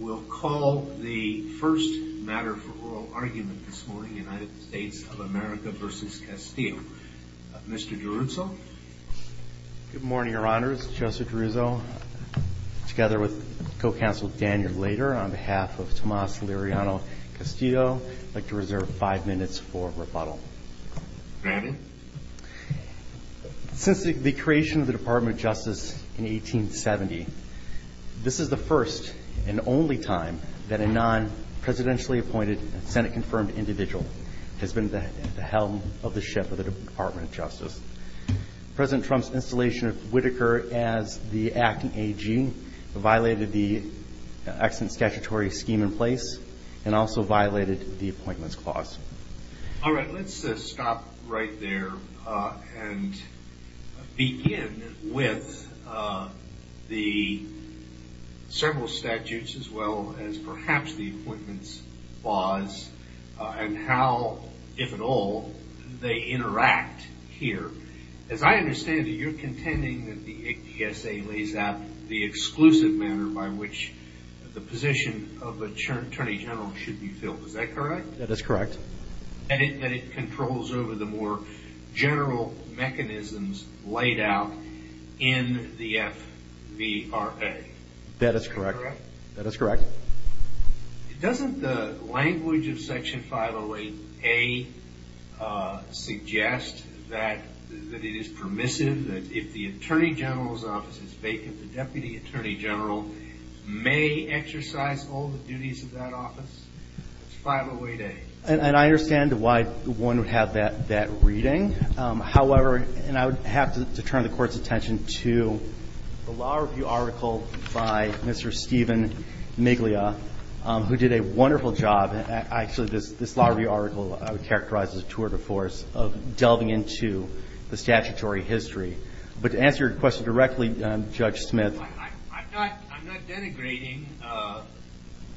We'll call the first matter for oral argument this morning, United States of America v. Castillo. Mr. D'Aruzzo? Good morning, Your Honors. Joseph D'Aruzzo, together with Co-Counsel Daniel Lader, on behalf of Tomas Liriano-Castillo, I'd like to reserve five minutes for rebuttal. Since the creation of the Department of Justice in 1870, this is the first and only time that a non-presidentially appointed Senate-confirmed individual has been at the helm of the ship of the Department of Justice. President Trump's installation of Whitaker as the acting AG violated the excellent statutory scheme in place and also violated the Appointments Clause. All right, let's stop right there and begin with the several statutes as well as perhaps the Appointments Clause and how, if at all, they interact here. As I understand it, you're contending that the APSA lays out the exclusive manner by which the position of Attorney General should be filled. Is that correct? That is correct. And that it controls over the more general mechanisms laid out in the FVRA. That is correct. Doesn't the language of Section 508A suggest that it is permissive, that if the Attorney General's office is vacant, the Deputy Attorney General may exercise all the duties of that office? That's 508A. And I understand why one would have that reading. However, and I would have to turn the Court's attention to the law review article by Mr. Stephen Miglia, who did a wonderful job. Actually, this law review article I would characterize as a tour de force of delving into the statutory history. But to answer your question directly, Judge Smith. I'm not denigrating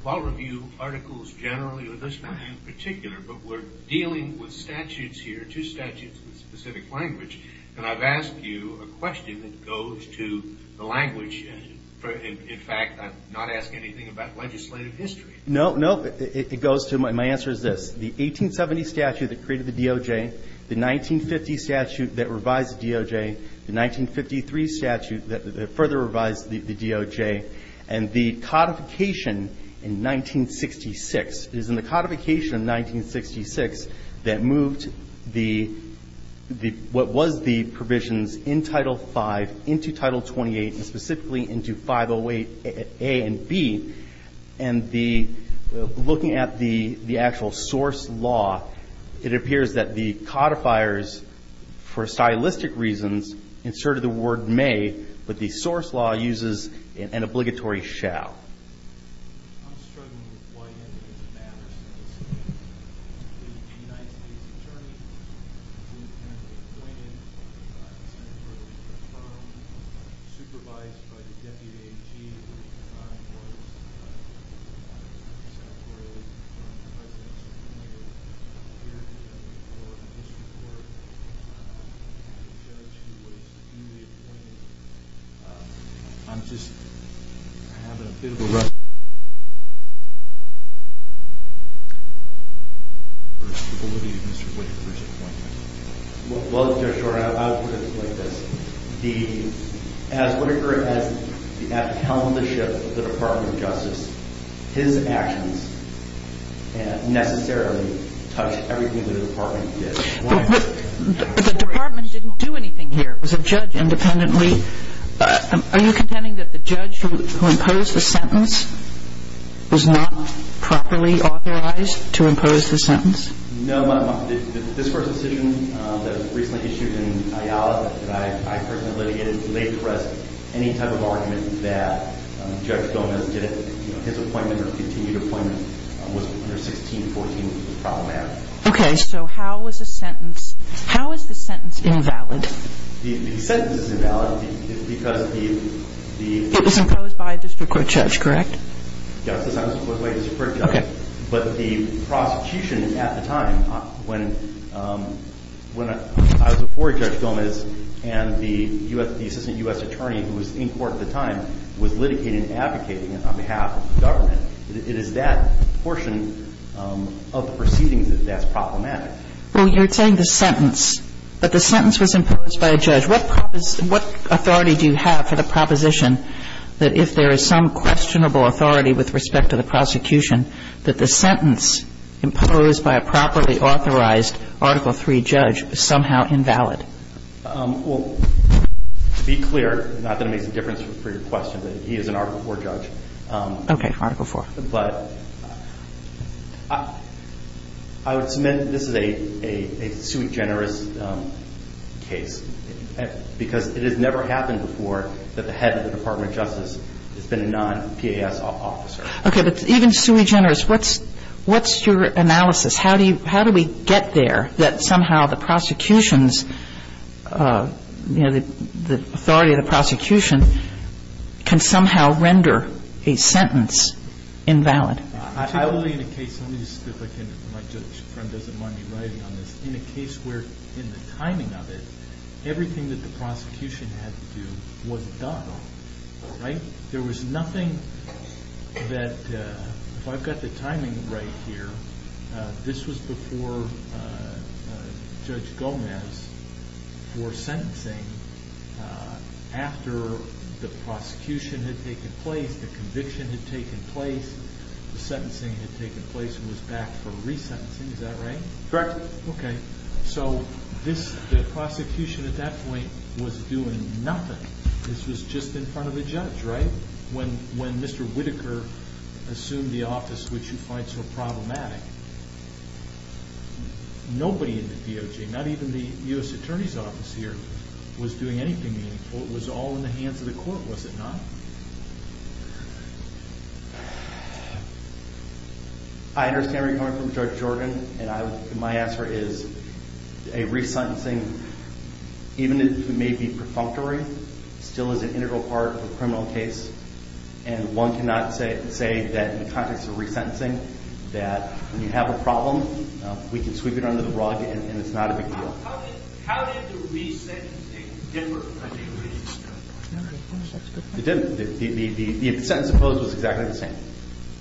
law review articles generally or this one in particular, but we're dealing with statutes here, two statutes with specific language. And I've asked you a question that goes to the language. In fact, I'm not asking anything about legislative history. No, no. It goes to my answer is this. The 1870 statute that created the DOJ, the 1950 statute that revised the DOJ, the 1953 statute that further revised the DOJ, and the codification in 1966. It is in the codification of 1966 that moved the, what was the provisions in Title V into Title 28 and specifically into 508A and B. And the, looking at the actual source law, it appears that the codifiers, for stylistic reasons, inserted the word may, but the source law uses an obligatory shall. I'm struggling with why any of this matters. The United States Attorney, who apparently appointed by the Senate earlier this term, supervised by the Deputy AG, who at the time was Senatorially-confirmed President, I'm here to report on this report. I have a judge who was newly appointed. I'm just, I have a bit of a question. What would be Mr. Whitaker's appointment? Well, Judge Schor, I would put it like this. As Whitaker has held the ship of the Department of Justice, his actions necessarily touch everything that the Department did. But the Department didn't do anything here. It was a judge independently. Are you contending that the judge who imposed the sentence was not properly authorized to impose the sentence? No. This first decision that was recently issued in IALA, that I personally litigated, laid to rest any type of argument that Judge Gomez did it, you know, his appointment or continued appointment was under 1614, was problematic. Okay. So how is a sentence, how is the sentence invalid? The sentence is invalid because the, the It was imposed by a district court judge, correct? Yes, it was imposed by a district court judge. Okay. But the prosecution at the time, when, when I was before Judge Gomez and the U.S., the assistant U.S. attorney who was in court at the time was litigating and advocating on behalf of the government, it is that portion of the proceedings that's problematic. Well, you're saying the sentence, but the sentence was imposed by a judge. What, what authority do you have for the proposition that if there is some questionable authority with respect to the prosecution, that the sentence imposed by a properly authorized Article III judge is somehow invalid? Well, to be clear, not that it makes a difference for your question, but he is an Article IV judge. Okay. Article IV. But I would submit that this is a, a, a sui generis case because it has never happened before that the head of the Department of Justice has been a non-PAS officer. Okay. But even sui generis, what's, what's your analysis? How do you, how do we get there that somehow the prosecution's, you know, the, the authority of the prosecution can somehow render a sentence invalid? Particularly in a case, let me just, if I can, if my judge friend doesn't mind me writing on this, in a case where in the timing of it, everything that the prosecution had to do was done, right? There was nothing that, if I've got the timing right here, this was before Judge Gomez wore sentencing. After the prosecution had taken place, the conviction had taken place, the sentencing had taken place and was back for resentencing. Is that right? Correct. Okay. So this, the prosecution at that point was doing nothing. This was just in front of a judge, right? When, when Mr. Whitaker assumed the office, which you find so problematic, nobody in the DOJ, not even the U.S. Attorney's Office here, was doing anything meaningful. It was all in the hands of the court, was it not? I understand where you're coming from, Judge Jordan, and I, my answer is a resentencing, even if it may be perfunctory, still is an integral part of a criminal case. And one cannot say, say that in the context of resentencing, that when you have a problem, we can sweep it under the rug and it's not a big deal. How did, how did the resentencing differ from the resentencing? It didn't. The sentence opposed was exactly the same,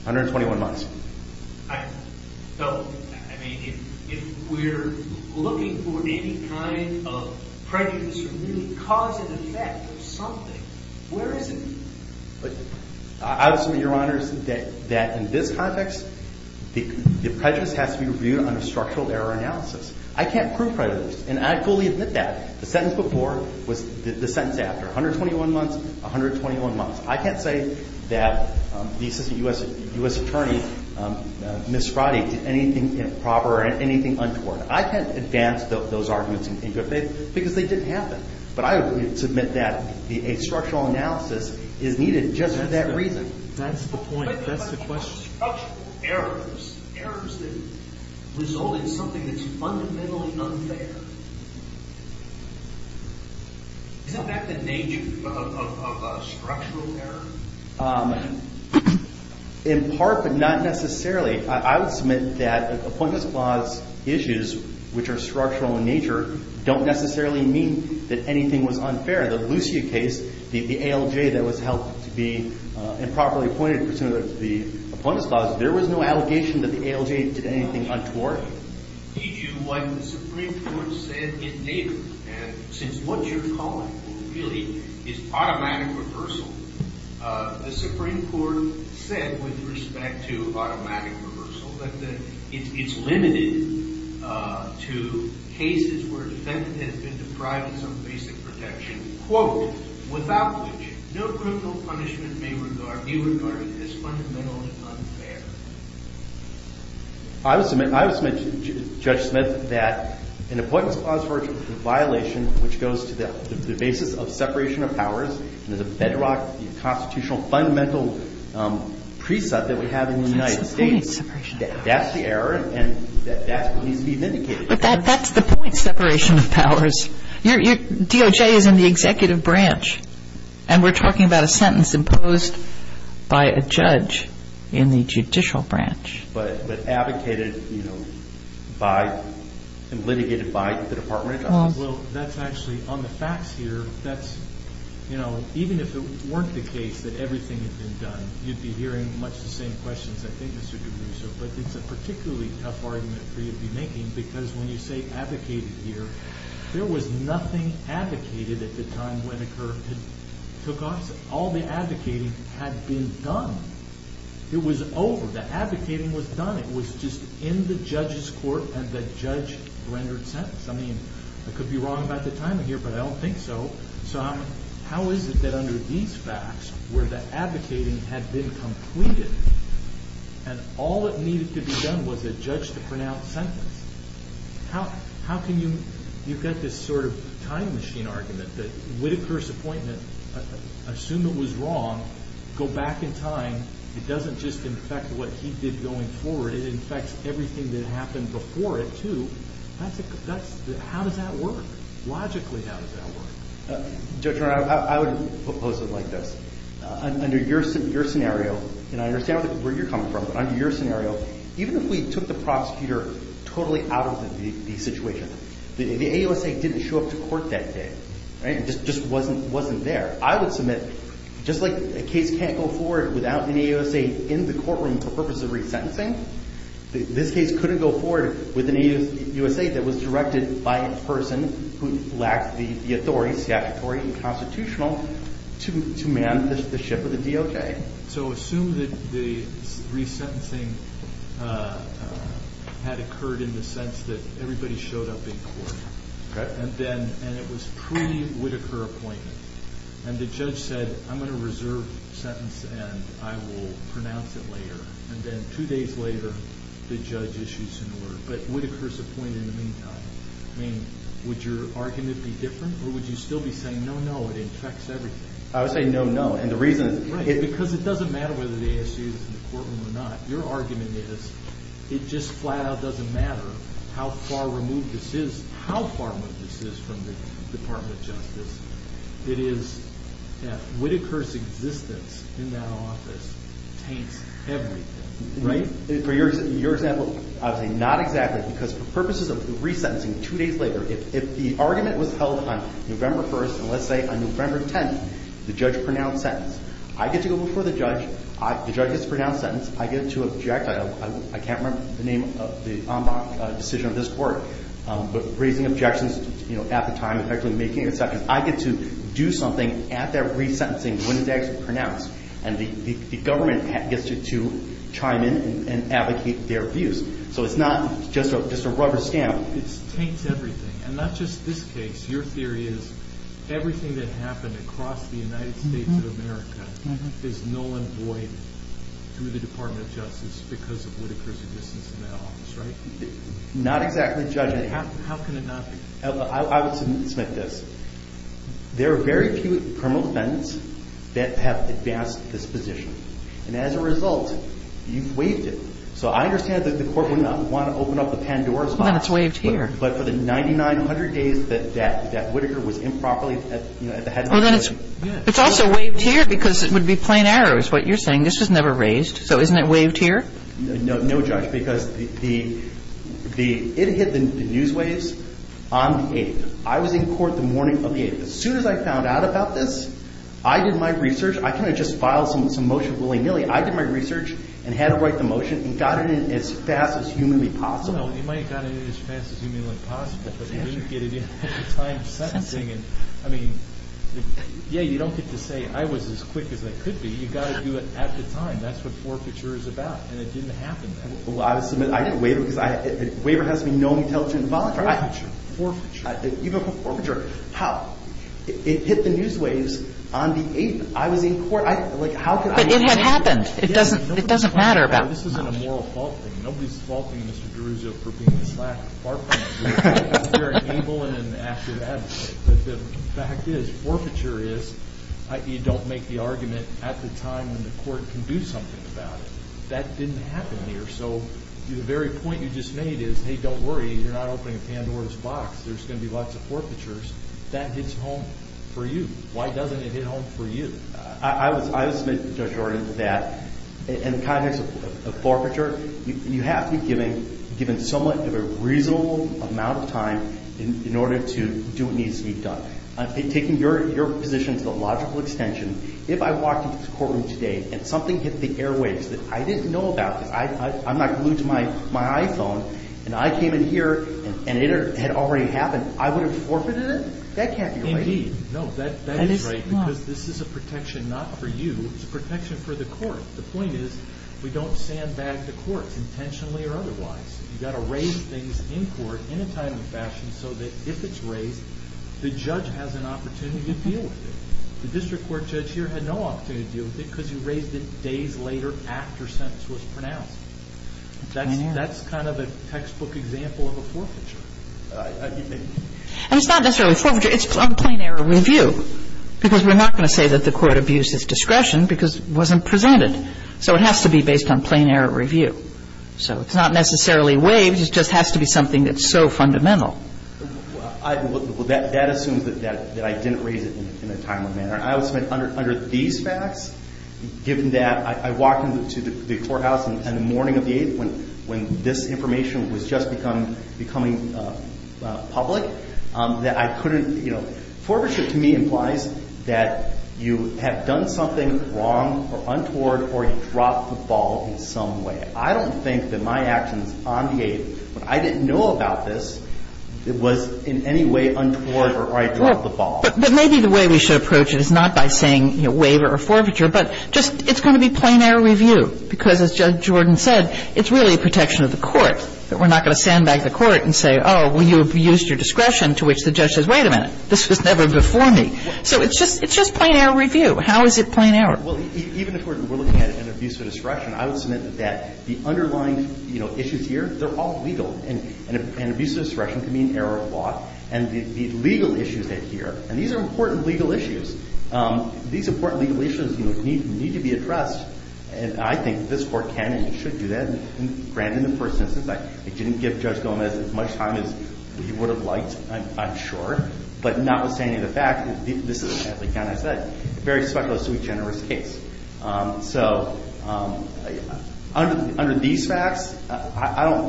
121 months. So, I mean, if we're looking for any kind of prejudice or really cause and effect of something, where is it? I would submit, Your Honors, that in this context, the prejudice has to be reviewed under structural error analysis. I can't prove prejudice, and I fully admit that. The sentence before was the sentence after, 121 months, 121 months. I can't say that the Assistant U.S. Attorney, Ms. Sprotty, did anything improper or anything untoward. I can't advance those arguments because they didn't happen. But I would submit that a structural analysis is needed just for that reason. That's the point. Structural errors, errors that result in something that's fundamentally unfair. Isn't that the nature of structural error? In part, but not necessarily. I would submit that appointments clause issues, which are structural in nature, don't necessarily mean that anything was unfair. The Lucia case, the ALJ that was helped to be improperly appointed for some of the appointments clause, there was no allegation that the ALJ did anything untoward. Did you, what the Supreme Court said, it never, and since what you're calling really is automatic reversal, the Supreme Court said, with respect to automatic reversal, that it's limited to cases where a defendant has been deprived of some basic protection. Quote, without which, no criminal punishment may be regarded as fundamentally unfair. I would submit, Judge Smith, that an appointments clause violation, which goes to the basis of separation of powers, and there's a bedrock constitutional fundamental precept that we have in the United States. That's the point. Separation of powers. That's the error, and that's what needs to be vindicated. But that's the point, separation of powers. Your DOJ is in the executive branch, and we're talking about a sentence imposed by a judge in the judicial branch. But advocated by, and litigated by the Department of Justice. Well, that's actually, on the facts here, that's, you know, even if it weren't the case that everything had been done, you'd be hearing much the same questions, I think, Mr. DeRusso. But it's a particularly tough argument for you to be making, because when you say advocated here, there was nothing advocated at the time when a court had took office. All the advocating had been done. It was over. The advocating was done. It was just in the judge's court, and the judge rendered sentence. I mean, I could be wrong about the timing here, but I don't think so. So how is it that under these facts, where the advocating had been completed, and all that needed to be done was a judge to pronounce sentence, how can you get this sort of time machine argument that would a curse appointment, assume it was wrong, go back in time, it doesn't just infect what he did going forward. It infects everything that happened before it, too. How does that work? Logically, how does that work? Judge, I would propose it like this. Under your scenario, and I understand where you're coming from, but under your scenario, even if we took the prosecutor totally out of the situation, the AUSA didn't show up to court that day. It just wasn't there. I would submit, just like a case can't go forward without an AUSA in the courtroom for purposes of resentencing, this case couldn't go forward with an AUSA that was directed by a person who lacked the authority, statutory and constitutional, to man the ship of the DOJ. So assume that the resentencing had occurred in the sense that everybody showed up in court, and it was pre-Whitaker appointment, and the judge said, I'm going to reserve the sentence and I will pronounce it later. And then two days later, the judge issued some order. But Whitaker's appointed in the meantime. I mean, would your argument be different, or would you still be saying, no, no, it infects everything? I would say no, no. And the reason is because it doesn't matter whether the AUSA is in the courtroom or not. Your argument is it just flat out doesn't matter how far removed this is, how far removed this is from the Department of Justice. It is that Whitaker's existence in that office taints everything, right? For your example, I would say not exactly. Because for purposes of resentencing, two days later, if the argument was held on November 1st, and let's say on November 10th, the judge pronounced sentence, I get to go before the judge, the judge gets the pronounced sentence, I get to object, I can't remember the name of the decision of this court, but raising objections at the time, effectively making a sentence, I get to do something at that resentencing when it's actually pronounced. And the government gets to chime in and advocate their views. So it's not just a rubber stamp. It taints everything. And not just this case. Your theory is everything that happened across the United States of America is null and void through the Department of Justice because of Whitaker's existence in that office, right? Not exactly, Judge. How can it not be? I would submit this. There are very few criminal defendants that have advanced this position. And as a result, you've waived it. So I understand that the court would not want to open up the Pandora's box. Well, then it's waived here. It's also waived here because it would be plain error is what you're saying. This was never raised. So isn't it waived here? No, Judge, because it hit the news waves on the 8th. I was in court the morning of the 8th. As soon as I found out about this, I did my research. I kind of just filed some motion willy-nilly. I did my research and had to write the motion and got it in as fast as humanly possible. You might have got it in as fast as humanly possible, but you didn't get it in at the time of sentencing. I mean, yeah, you don't get to say I was as quick as I could be. You've got to do it at the time. That's what forfeiture is about. And it didn't happen. Well, I would submit. I didn't waive it because a waiver has to be known, intelligent, and voluntary. Forfeiture. Even forfeiture. How? It hit the news waves on the 8th. I was in court. But it had happened. It doesn't matter about forfeiture. This isn't a moral fault thing. I'm very able and an active advocate. But the fact is forfeiture is you don't make the argument at the time when the court can do something about it. That didn't happen here. So the very point you just made is, hey, don't worry. You're not opening a Pandora's box. There's going to be lots of forfeitures. That hits home for you. Why doesn't it hit home for you? I would submit to Judge Jordan that in the context of forfeiture, you have to be given somewhat of a reasonable amount of time in order to do what needs to be done. Taking your position to the logical extension, if I walked into this courtroom today and something hit the airwaves that I didn't know about because I'm not glued to my iPhone, and I came in here and it had already happened, I would have forfeited it? That can't be right. Indeed. No, that is right because this is a protection not for you. It's a protection for the court. The point is we don't sandbag the courts intentionally or otherwise. You've got to raise things in court in a timely fashion so that if it's raised, the judge has an opportunity to deal with it. The district court judge here had no opportunity to deal with it because he raised it days later after a sentence was pronounced. That's kind of a textbook example of a forfeiture. And it's not necessarily a forfeiture. It's a plain error review because we're not going to say that the court abused his discretion because it wasn't presented. So it has to be based on plain error review. So it's not necessarily waived. It just has to be something that's so fundamental. Well, that assumes that I didn't raise it in a timely manner. I would say under these facts, given that I walked into the courthouse on the morning of the 8th when this information was just becoming public, that I couldn't, you know, forfeiture to me implies that you have done something wrong or untoward or you dropped the ball in some way. I don't think that my actions on the 8th, when I didn't know about this, was in any way untoward or I dropped the ball. But maybe the way we should approach it is not by saying waiver or forfeiture, but just it's going to be plain error review because, as Judge Jordan said, it's really a protection of the court, that we're not going to sandbag the court and say, oh, well, you abused your discretion, to which the judge says, wait a minute, this was never before me. So it's just plain error review. How is it plain error? Well, even if we're looking at an abuse of discretion, I would submit that the underlying, you know, issues here, they're all legal. And abuse of discretion can be an error of law. And the legal issues that are here, and these are important legal issues, these important legal issues need to be addressed. And I think this Court can and should do that. I don't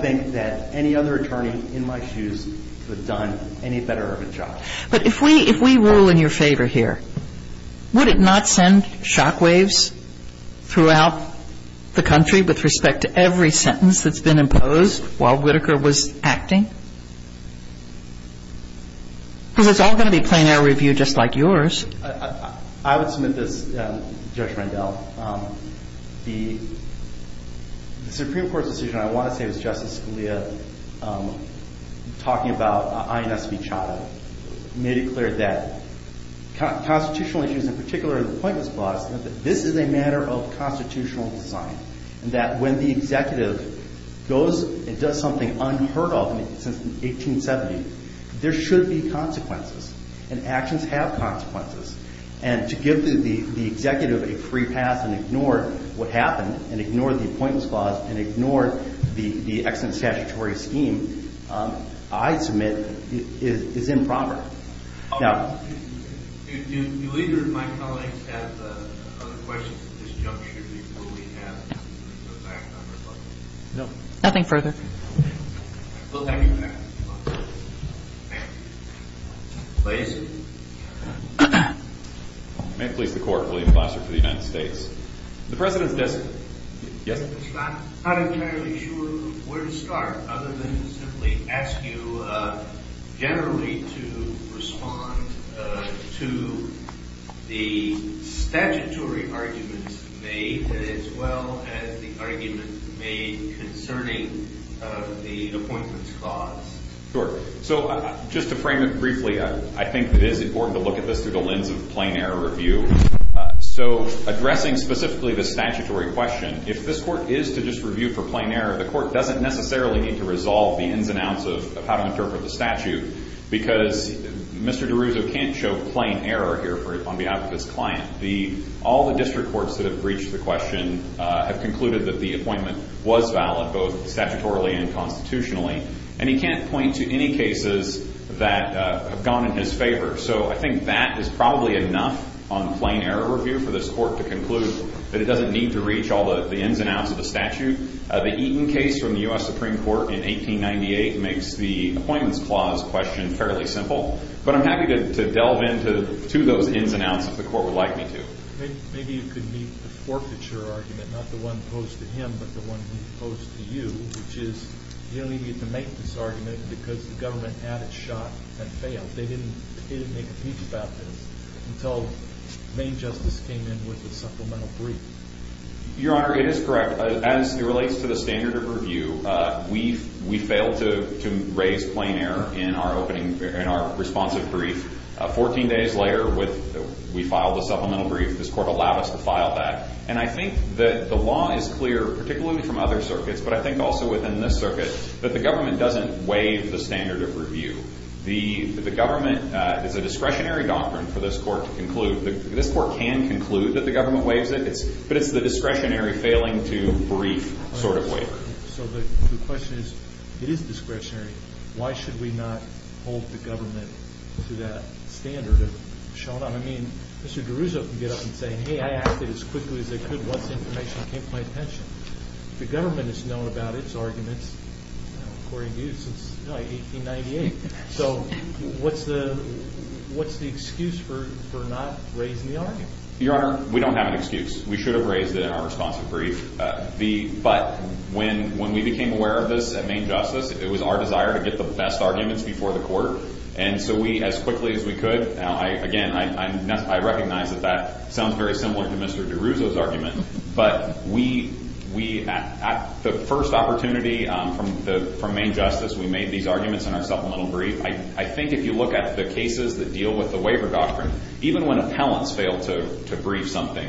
think that any other attorney in my shoes would have done any better of a job. But if we rule in your favor here, would it not send shockwaves throughout the country I don't think it would. that's been imposed while Whitaker was acting? Because it's all going to be plain error review just like yours. I would submit this, Judge Rendell. The Supreme Court's decision, I want to say it was Justice Scalia talking about INS v. Chadha, made it clear that constitutional issues, in particular the appointments clause, this is a matter of constitutional design. And that when the executive goes and does something unheard of since 1870, there should be consequences. And actions have consequences. And to give the executive a free pass and ignore what happened, and ignore the appointments clause, and ignore the excellent statutory scheme, I submit is improper. Do either of my colleagues have other questions at this juncture before we have to go back? No. Nothing further. We'll have you back. Please. May it please the Court, William Foster for the United States. The President's decision. Yes. I'm not entirely sure where to start, other than to simply ask you generally to respond to the statutory arguments made, as well as the argument made concerning the appointments clause. Sure. So just to frame it briefly, I think it is important to look at this through the lens of plain error review. So addressing specifically the statutory question, if this Court is to just review for plain error, the Court doesn't necessarily need to resolve the ins and outs of how to interpret the statute, because Mr. DeRuzo can't show plain error here on behalf of his client. All the district courts that have reached the question have concluded that the appointment was valid, both statutorily and constitutionally. And he can't point to any cases that have gone in his favor. So I think that is probably enough on plain error review for this Court to conclude that it doesn't need to reach all the ins and outs of the statute. The Eaton case from the U.S. Supreme Court in 1898 makes the appointments clause question fairly simple. But I'm happy to delve into those ins and outs if the Court would like me to. Maybe you could meet the forfeiture argument, not the one posed to him, but the one he posed to you, which is you don't even get to make this argument because the government had it shot and failed. They didn't make a speech about this until Maine Justice came in with a supplemental brief. Your Honor, it is correct. As it relates to the standard of review, we failed to raise plain error in our responsive brief. Fourteen days later, we filed a supplemental brief. This Court allowed us to file that. And I think that the law is clear, particularly from other circuits, but I think also within this circuit, that the government doesn't waive the standard of review. The government is a discretionary doctrine for this Court to conclude. This Court can conclude that the government waives it, but it's the discretionary failing to brief sort of waiver. So the question is, it is discretionary. Why should we not hold the government to that standard of showing up? I mean, Mr. DeRuzzo can get up and say, hey, I acted as quickly as they could. What's the information that came to my attention? The government has known about its arguments, according to you, since 1898. So what's the excuse for not raising the argument? Your Honor, we don't have an excuse. We should have raised it in our responsive brief. But when we became aware of this at Main Justice, it was our desire to get the best arguments before the Court. And so we, as quickly as we could, again, I recognize that that sounds very similar to Mr. DeRuzzo's argument. I think if you look at the cases that deal with the waiver doctrine, even when appellants fail to brief something,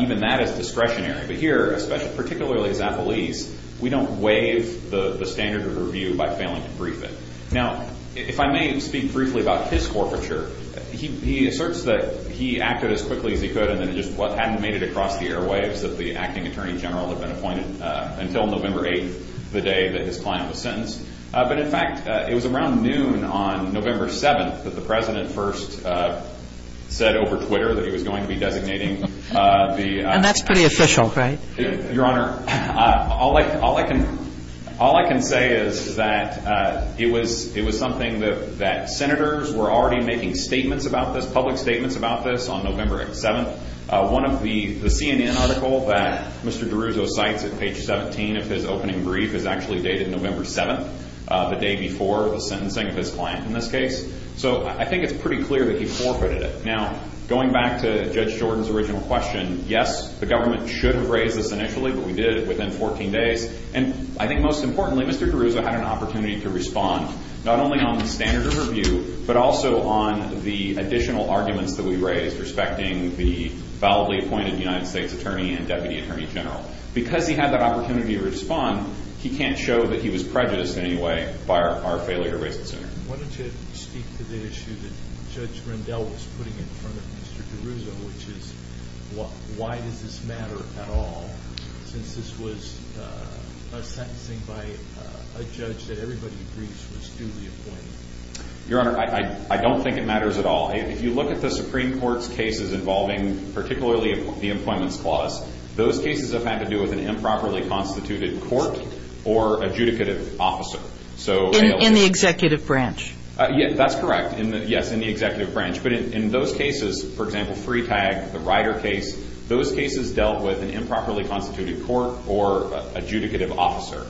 even that is discretionary. But here, particularly as appellees, we don't waive the standard of review by failing to brief it. Now, if I may speak briefly about his corporature, he asserts that he acted as quickly as he could and then it just hadn't made it across the airwaves that the acting Attorney General had been appointed until November 8th, the day that his client was sentenced. But in fact, it was around noon on November 7th that the President first said over Twitter that he was going to be designating the- And that's pretty official, right? Your Honor, all I can say is that it was something that senators were already making statements about this, public statements about this, on November 7th. One of the CNN articles that Mr. DeRuzzo cites at page 17 of his opening brief is actually dated November 7th, the day before the sentencing of his client in this case. So I think it's pretty clear that he forfeited it. Now, going back to Judge Jordan's original question, yes, the government should have raised this initially, but we did it within 14 days. And I think most importantly, Mr. DeRuzzo had an opportunity to respond not only on the standard of review, but also on the additional arguments that we raised respecting the validly appointed United States Attorney and Deputy Attorney General. Because he had that opportunity to respond, he can't show that he was prejudiced in any way by our failure to raise it sooner. Why don't you speak to the issue that Judge Rendell was putting in front of Mr. DeRuzzo, which is why does this matter at all since this was a sentencing by a judge that everybody agrees was duly appointed? Your Honor, I don't think it matters at all. If you look at the Supreme Court's cases involving particularly the Appointments Clause, those cases have had to do with an improperly constituted court or adjudicative officer. In the executive branch? That's correct, yes, in the executive branch. But in those cases, for example, Freetag, the Ryder case, those cases dealt with an improperly constituted court or adjudicative officer.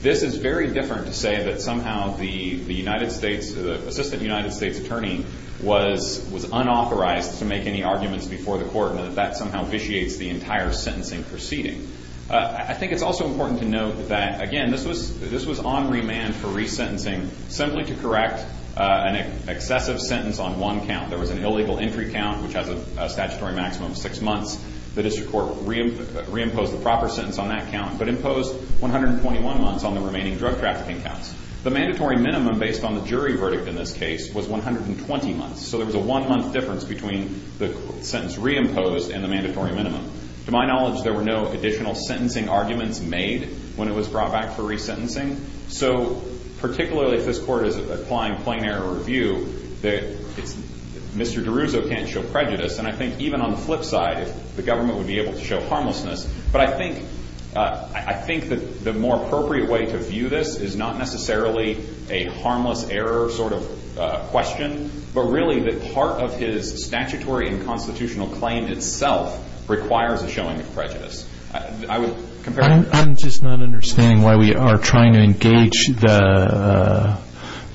This is very different to say that somehow the Assistant United States Attorney was unauthorized to make any arguments before the court and that that somehow vitiates the entire sentencing proceeding. I think it's also important to note that, again, this was on remand for resentencing simply to correct an excessive sentence on one count. There was an illegal entry count, which has a statutory maximum of six months. The district court reimposed the proper sentence on that count but imposed 121 months on the remaining drug trafficking counts. The mandatory minimum based on the jury verdict in this case was 120 months, so there was a one-month difference between the sentence reimposed and the mandatory minimum. To my knowledge, there were no additional sentencing arguments made when it was brought back for resentencing. So particularly if this court is applying plain error review, Mr. DeRuzo can't show prejudice. And I think even on the flip side, the government would be able to show harmlessness, but I think the more appropriate way to view this is not necessarily a harmless error sort of question, but really that part of his statutory and constitutional claim itself requires a showing of prejudice. I would compare it to that. I'm just not understanding why we are trying to engage the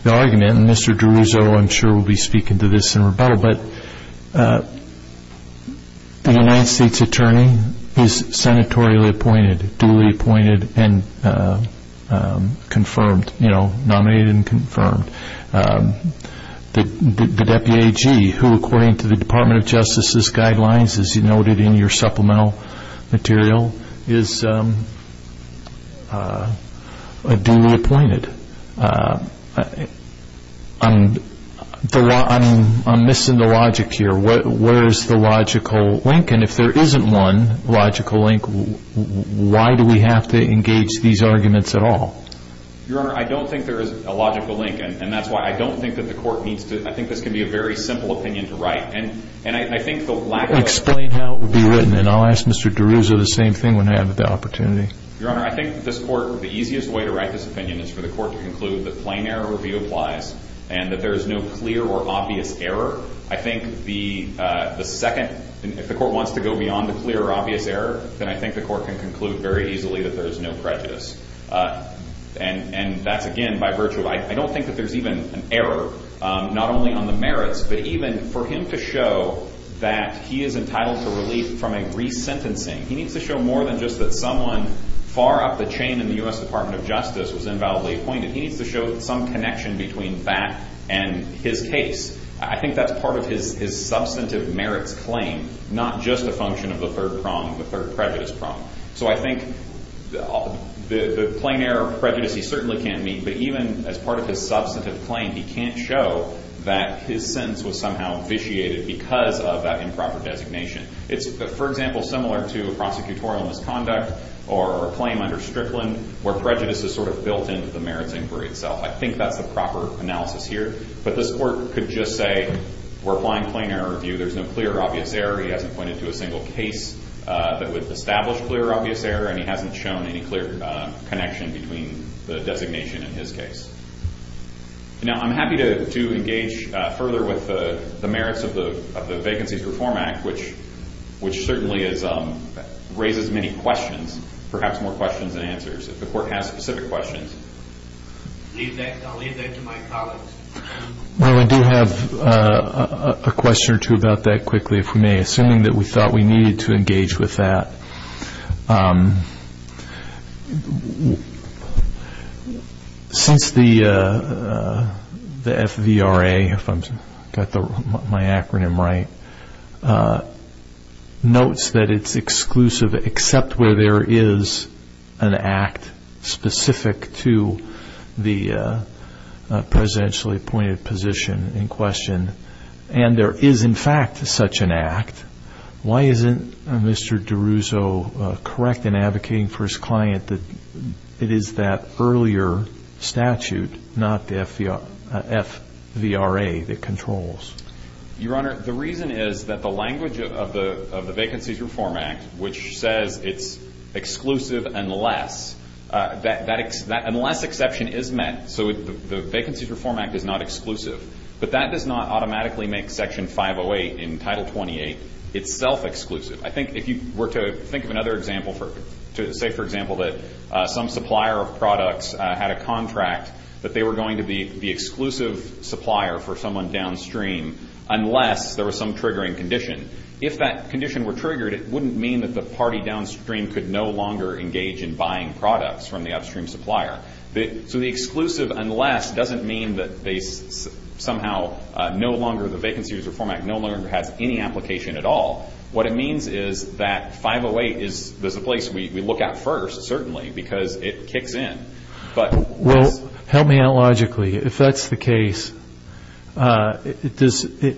argument, and Mr. DeRuzo I'm sure will be speaking to this in rebuttal, but the United States Attorney is senatorially appointed, duly appointed and confirmed, you know, nominated and confirmed. The deputy AG, who according to the Department of Justice's guidelines, as you noted in your supplemental material, is duly appointed. I'm missing the logic here. Where is the logical link? And if there isn't one logical link, why do we have to engage these arguments at all? Your Honor, I don't think there is a logical link, and that's why I don't think that the court needs to I think this can be a very simple opinion to write. And I think the lack of Explain how it would be written, and I'll ask Mr. DeRuzo the same thing when I have the opportunity. Your Honor, I think this court, the easiest way to write this opinion is for the court to conclude that plain error review applies, and that there is no clear or obvious error. I think the second, if the court wants to go beyond the clear or obvious error, then I think the court can conclude very easily that there is no prejudice. And that's again by virtue of, I don't think that there's even an error, not only on the merits, but even for him to show that he is entitled to relief from a resentencing. He needs to show more than just that someone far up the chain in the U.S. Department of Justice was invalidly appointed. He needs to show some connection between that and his case. I think that's part of his substantive merits claim, not just a function of the third prong, the third prejudice prong. So I think the plain error prejudice he certainly can't meet, but even as part of his substantive claim, he can't show that his sentence was somehow officiated because of that improper designation. It's, for example, similar to a prosecutorial misconduct or a claim under Strickland where prejudice is sort of built into the merits inquiry itself. I think that's the proper analysis here. But this court could just say we're applying plain error review. There's no clear or obvious error. He hasn't pointed to a single case that would establish clear or obvious error, and he hasn't shown any clear connection between the designation and his case. Now I'm happy to engage further with the merits of the Vacancies Reform Act, which certainly raises many questions, perhaps more questions than answers. If the court has specific questions. I'll leave that to my colleagues. Well, I do have a question or two about that quickly, if we may, assuming that we thought we needed to engage with that. Since the FVRA, if I've got my acronym right, notes that it's exclusive except where there is an act specific to the presidentially appointed position in question, and there is, in fact, such an act, why isn't Mr. DeRusso correct in advocating for his client that it is that earlier statute, not the FVRA, that controls? Your Honor, the reason is that the language of the Vacancies Reform Act, which says it's exclusive unless exception is met. So the Vacancies Reform Act is not exclusive. But that does not automatically make Section 508 in Title 28 itself exclusive. I think if you were to think of another example, say, for example, that some supplier of products had a contract, that they were going to be the exclusive supplier for someone downstream unless there was some triggering condition. If that condition were triggered, it wouldn't mean that the party downstream could no longer engage in buying products from the upstream supplier. So the exclusive unless doesn't mean that they somehow no longer, the Vacancies Reform Act no longer has any application at all. What it means is that 508 is the place we look at first, certainly, because it kicks in. Well, help me out logically. If that's the case, does the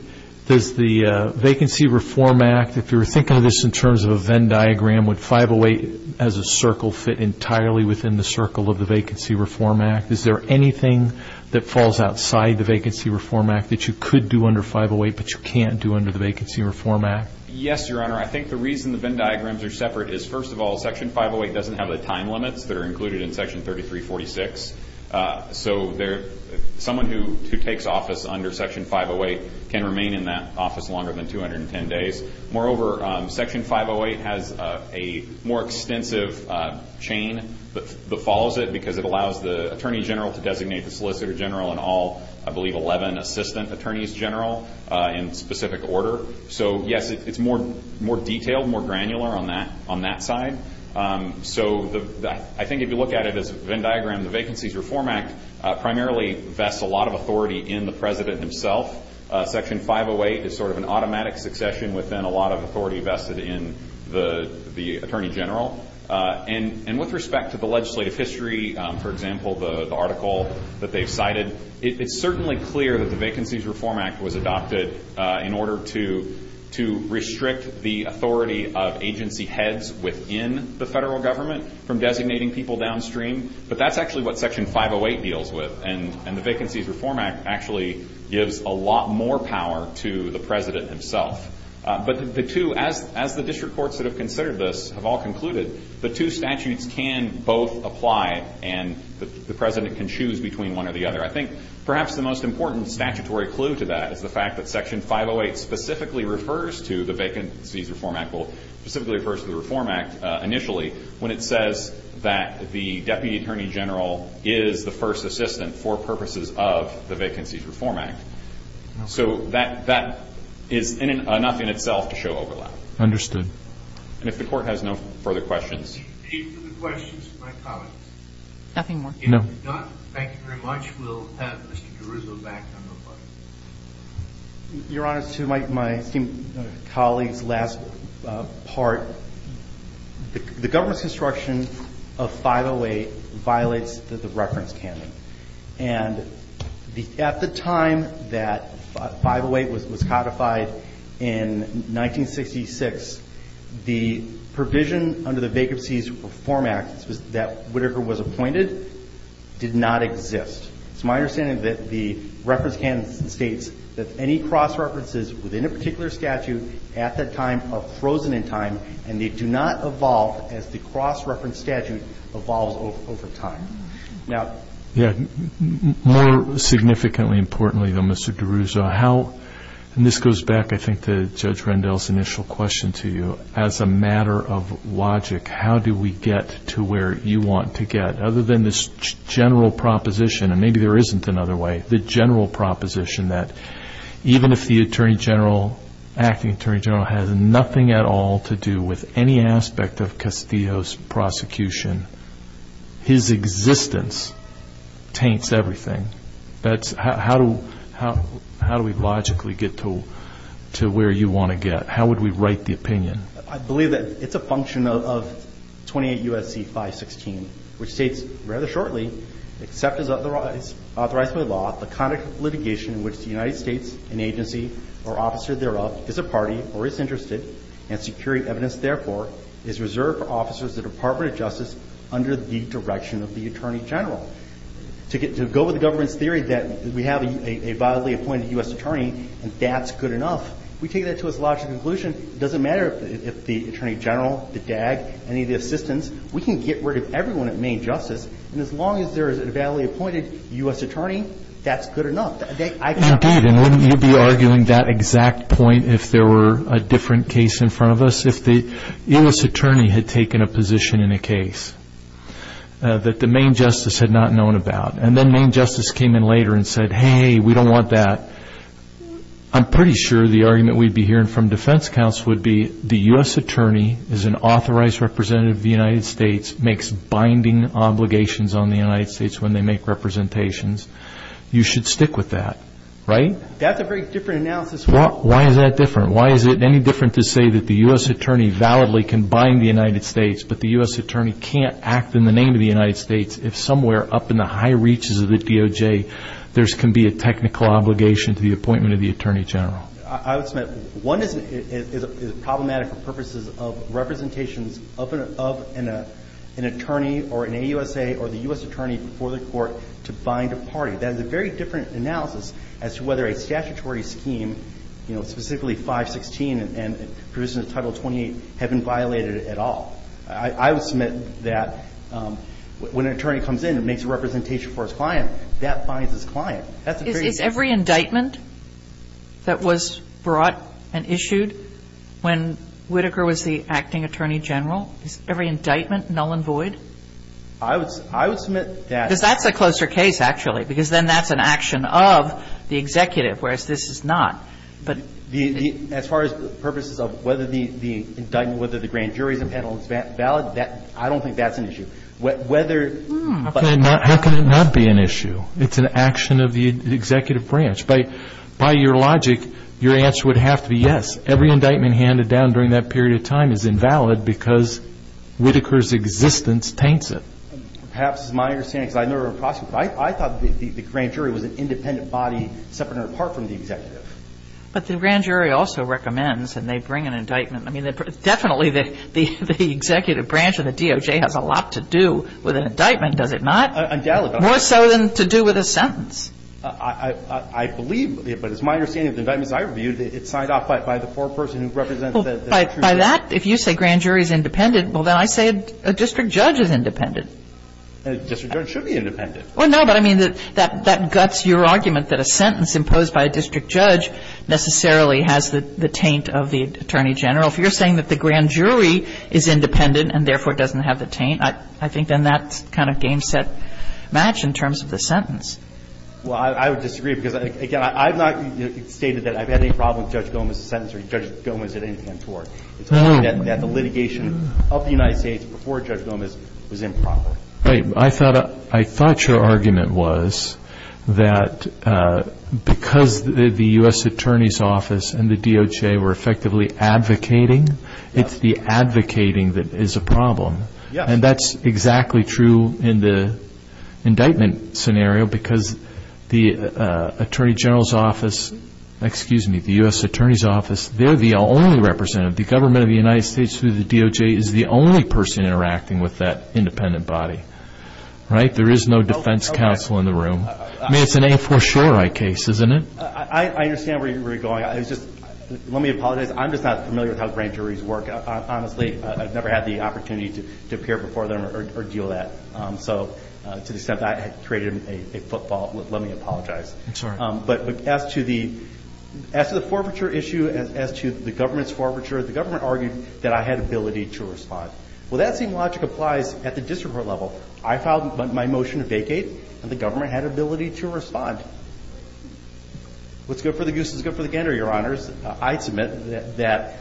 Vacancy Reform Act, if you were thinking of this in terms of a Venn diagram, would 508 as a circle fit entirely within the circle of the Vacancy Reform Act? Is there anything that falls outside the Vacancy Reform Act that you could do under 508 but you can't do under the Vacancy Reform Act? Yes, Your Honor. I think the reason the Venn diagrams are separate is, first of all, Section 508 doesn't have the time limits that are included in Section 3346. So someone who takes office under Section 508 can remain in that office longer than 210 days. Moreover, Section 508 has a more extensive chain that follows it because it allows the Attorney General to designate the Solicitor General and all, I believe, 11 Assistant Attorneys General in specific order. So, yes, it's more detailed, more granular on that side. So I think if you look at it as a Venn diagram, the Vacancies Reform Act primarily vests a lot of authority in the President himself. Section 508 is sort of an automatic succession within a lot of authority vested in the Attorney General. And with respect to the legislative history, for example, the article that they've cited, it's certainly clear that the Vacancies Reform Act was adopted in order to restrict the authority of agency heads within the federal government from designating people downstream. But that's actually what Section 508 deals with. And the Vacancies Reform Act actually gives a lot more power to the President himself. But the two, as the district courts that have considered this have all concluded, the two statutes can both apply and the President can choose between one or the other. I think perhaps the most important statutory clue to that is the fact that Section 508 specifically refers to the Vacancies Reform Act, specifically refers to the Reform Act initially, when it says that the Deputy Attorney General is the first assistant for purposes of the Vacancies Reform Act. So that is enough in itself to show overlap. Understood. And if the Court has no further questions. Any further questions of my colleagues? Nothing more. If not, thank you very much. We'll have Mr. Caruso back on the line. Your Honor, to my esteemed colleagues, last part, the government's instruction of 508 violates the reference candidate. And at the time that 508 was codified in 1966, the provision under the Vacancies Reform Act that Whittaker was appointed did not exist. It's my understanding that the reference candidate states that any cross-references within a particular statute at that time are frozen in time and they do not evolve as the cross-reference statute evolves over time. Yeah. More significantly importantly, though, Mr. Caruso, how, and this goes back, I think, to Judge Rendell's initial question to you. As a matter of logic, how do we get to where you want to get? Other than this general proposition, and maybe there isn't another way, the general proposition that even if the Attorney General, acting Attorney General, has nothing at all to do with any aspect of Castillo's prosecution, his existence taints everything. How do we logically get to where you want to get? How would we write the opinion? I believe that it's a function of 28 U.S.C. 516, which states rather shortly, except as authorized by law, the conduct of litigation in which the United States, an agency or officer thereof, is a party or is interested in securing evidence, therefore, is reserved for officers of the Department of Justice under the direction of the Attorney General. To go with the government's theory that we have a violently appointed U.S. attorney and that's good enough, we take that to its logical conclusion. It doesn't matter if the Attorney General, the DAG, any of the assistants, we can get rid of everyone at Maine Justice, and as long as there is a violently appointed U.S. attorney, that's good enough. Indeed, and wouldn't you be arguing that exact point if there were a different case in front of us? If the U.S. attorney had taken a position in a case that the Maine Justice had not known about, and then Maine Justice came in later and said, hey, we don't want that, I'm pretty sure the argument we'd be hearing from defense counsel would be, the U.S. attorney is an authorized representative of the United States, makes binding obligations on the United States when they make representations. You should stick with that, right? That's a very different analysis. Why is that different? Why is it any different to say that the U.S. attorney validly can bind the United States, but the U.S. attorney can't act in the name of the United States if somewhere up in the high reaches of the DOJ there can be a technical obligation to the appointment of the attorney general? I would submit one is problematic for purposes of representations of an attorney or an AUSA or the U.S. attorney before the court to bind a party. That is a very different analysis as to whether a statutory scheme, specifically 516 and provisions of Title 28, have been violated at all. I would submit that when an attorney comes in and makes a representation for his client, that binds his client. That's a very different analysis. Is every indictment that was brought and issued when Whitaker was the acting attorney general, is every indictment null and void? I would submit that. Because that's a closer case, actually, because then that's an action of the executive, whereas this is not. But the as far as purposes of whether the indictment, whether the grand jury's impedible is valid, I don't think that's an issue. How can it not be an issue? It's an action of the executive branch. By your logic, your answer would have to be yes. Every indictment handed down during that period of time is invalid because Whitaker's existence taints it. Perhaps this is my understanding, because I thought the grand jury was an independent body separate or apart from the executive. But the grand jury also recommends, and they bring an indictment. I mean, definitely the executive branch of the DOJ has a lot to do with an indictment, does it not? More so than to do with a sentence. I believe, but it's my understanding of the indictments I reviewed, it's signed off by the foreperson who represents the district judge. By that, if you say grand jury's independent, well, then I say a district judge is independent. A district judge should be independent. Well, no, but I mean, that guts your argument that a sentence imposed by a district judge necessarily has the taint of the attorney general. If you're saying that the grand jury is independent and therefore doesn't have the taint, I think then that's kind of game, set, match in terms of the sentence. Well, I would disagree, because, again, I've not stated that I've had any problem with Judge Gomez's sentence or Judge Gomez did anything untoward. It's only that the litigation of the United States before Judge Gomez was improper. I thought your argument was that because the U.S. Attorney's Office and the DOJ were effectively advocating, it's the advocating that is a problem. And that's exactly true in the indictment scenario, because the Attorney General's Office, excuse me, the U.S. Attorney's Office, they're the only representative. The government of the United States through the DOJ is the only person interacting with that independent body. Right? There is no defense counsel in the room. I mean, it's an a-for-sure-I case, isn't it? I understand where you're going. Let me apologize. I'm just not familiar with how grand juries work. Honestly, I've never had the opportunity to appear before them or deal with that. So to the extent that I created a footfall, let me apologize. I'm sorry. But as to the forfeiture issue, as to the government's forfeiture, the government argued that I had ability to respond. Well, that same logic applies at the district court level. I filed my motion to vacate, and the government had ability to respond. What's good for the goose is good for the gander, Your Honors. I submit that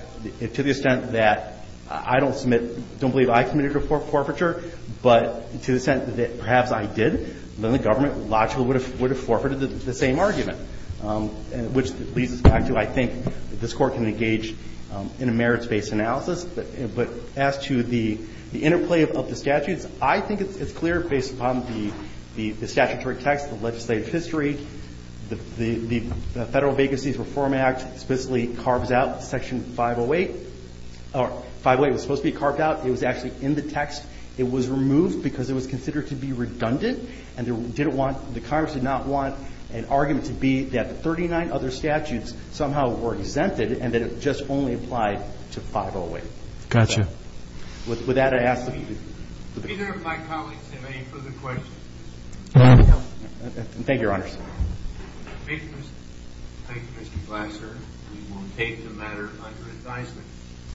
to the extent that I don't submit, don't believe I committed a forfeiture, but to the extent that perhaps I did, then the government logically would have forfeited the same argument, which leads us back to I think this Court can engage in a merits-based analysis. But as to the interplay of the statutes, I think it's clear based upon the statutory text, the legislative history, the Federal Vacancies Reform Act specifically carves out Section 508. Or 508 was supposed to be carved out. It was actually in the text. It was removed because it was considered to be redundant, and the Congress did not want an argument to be that the 39 other statutes somehow were exempted and that it just only applied to 508. Got you. With that, I ask... Do either of my colleagues have any further questions? No. Thank you, Your Honors. Thank you, Mr. Glasser.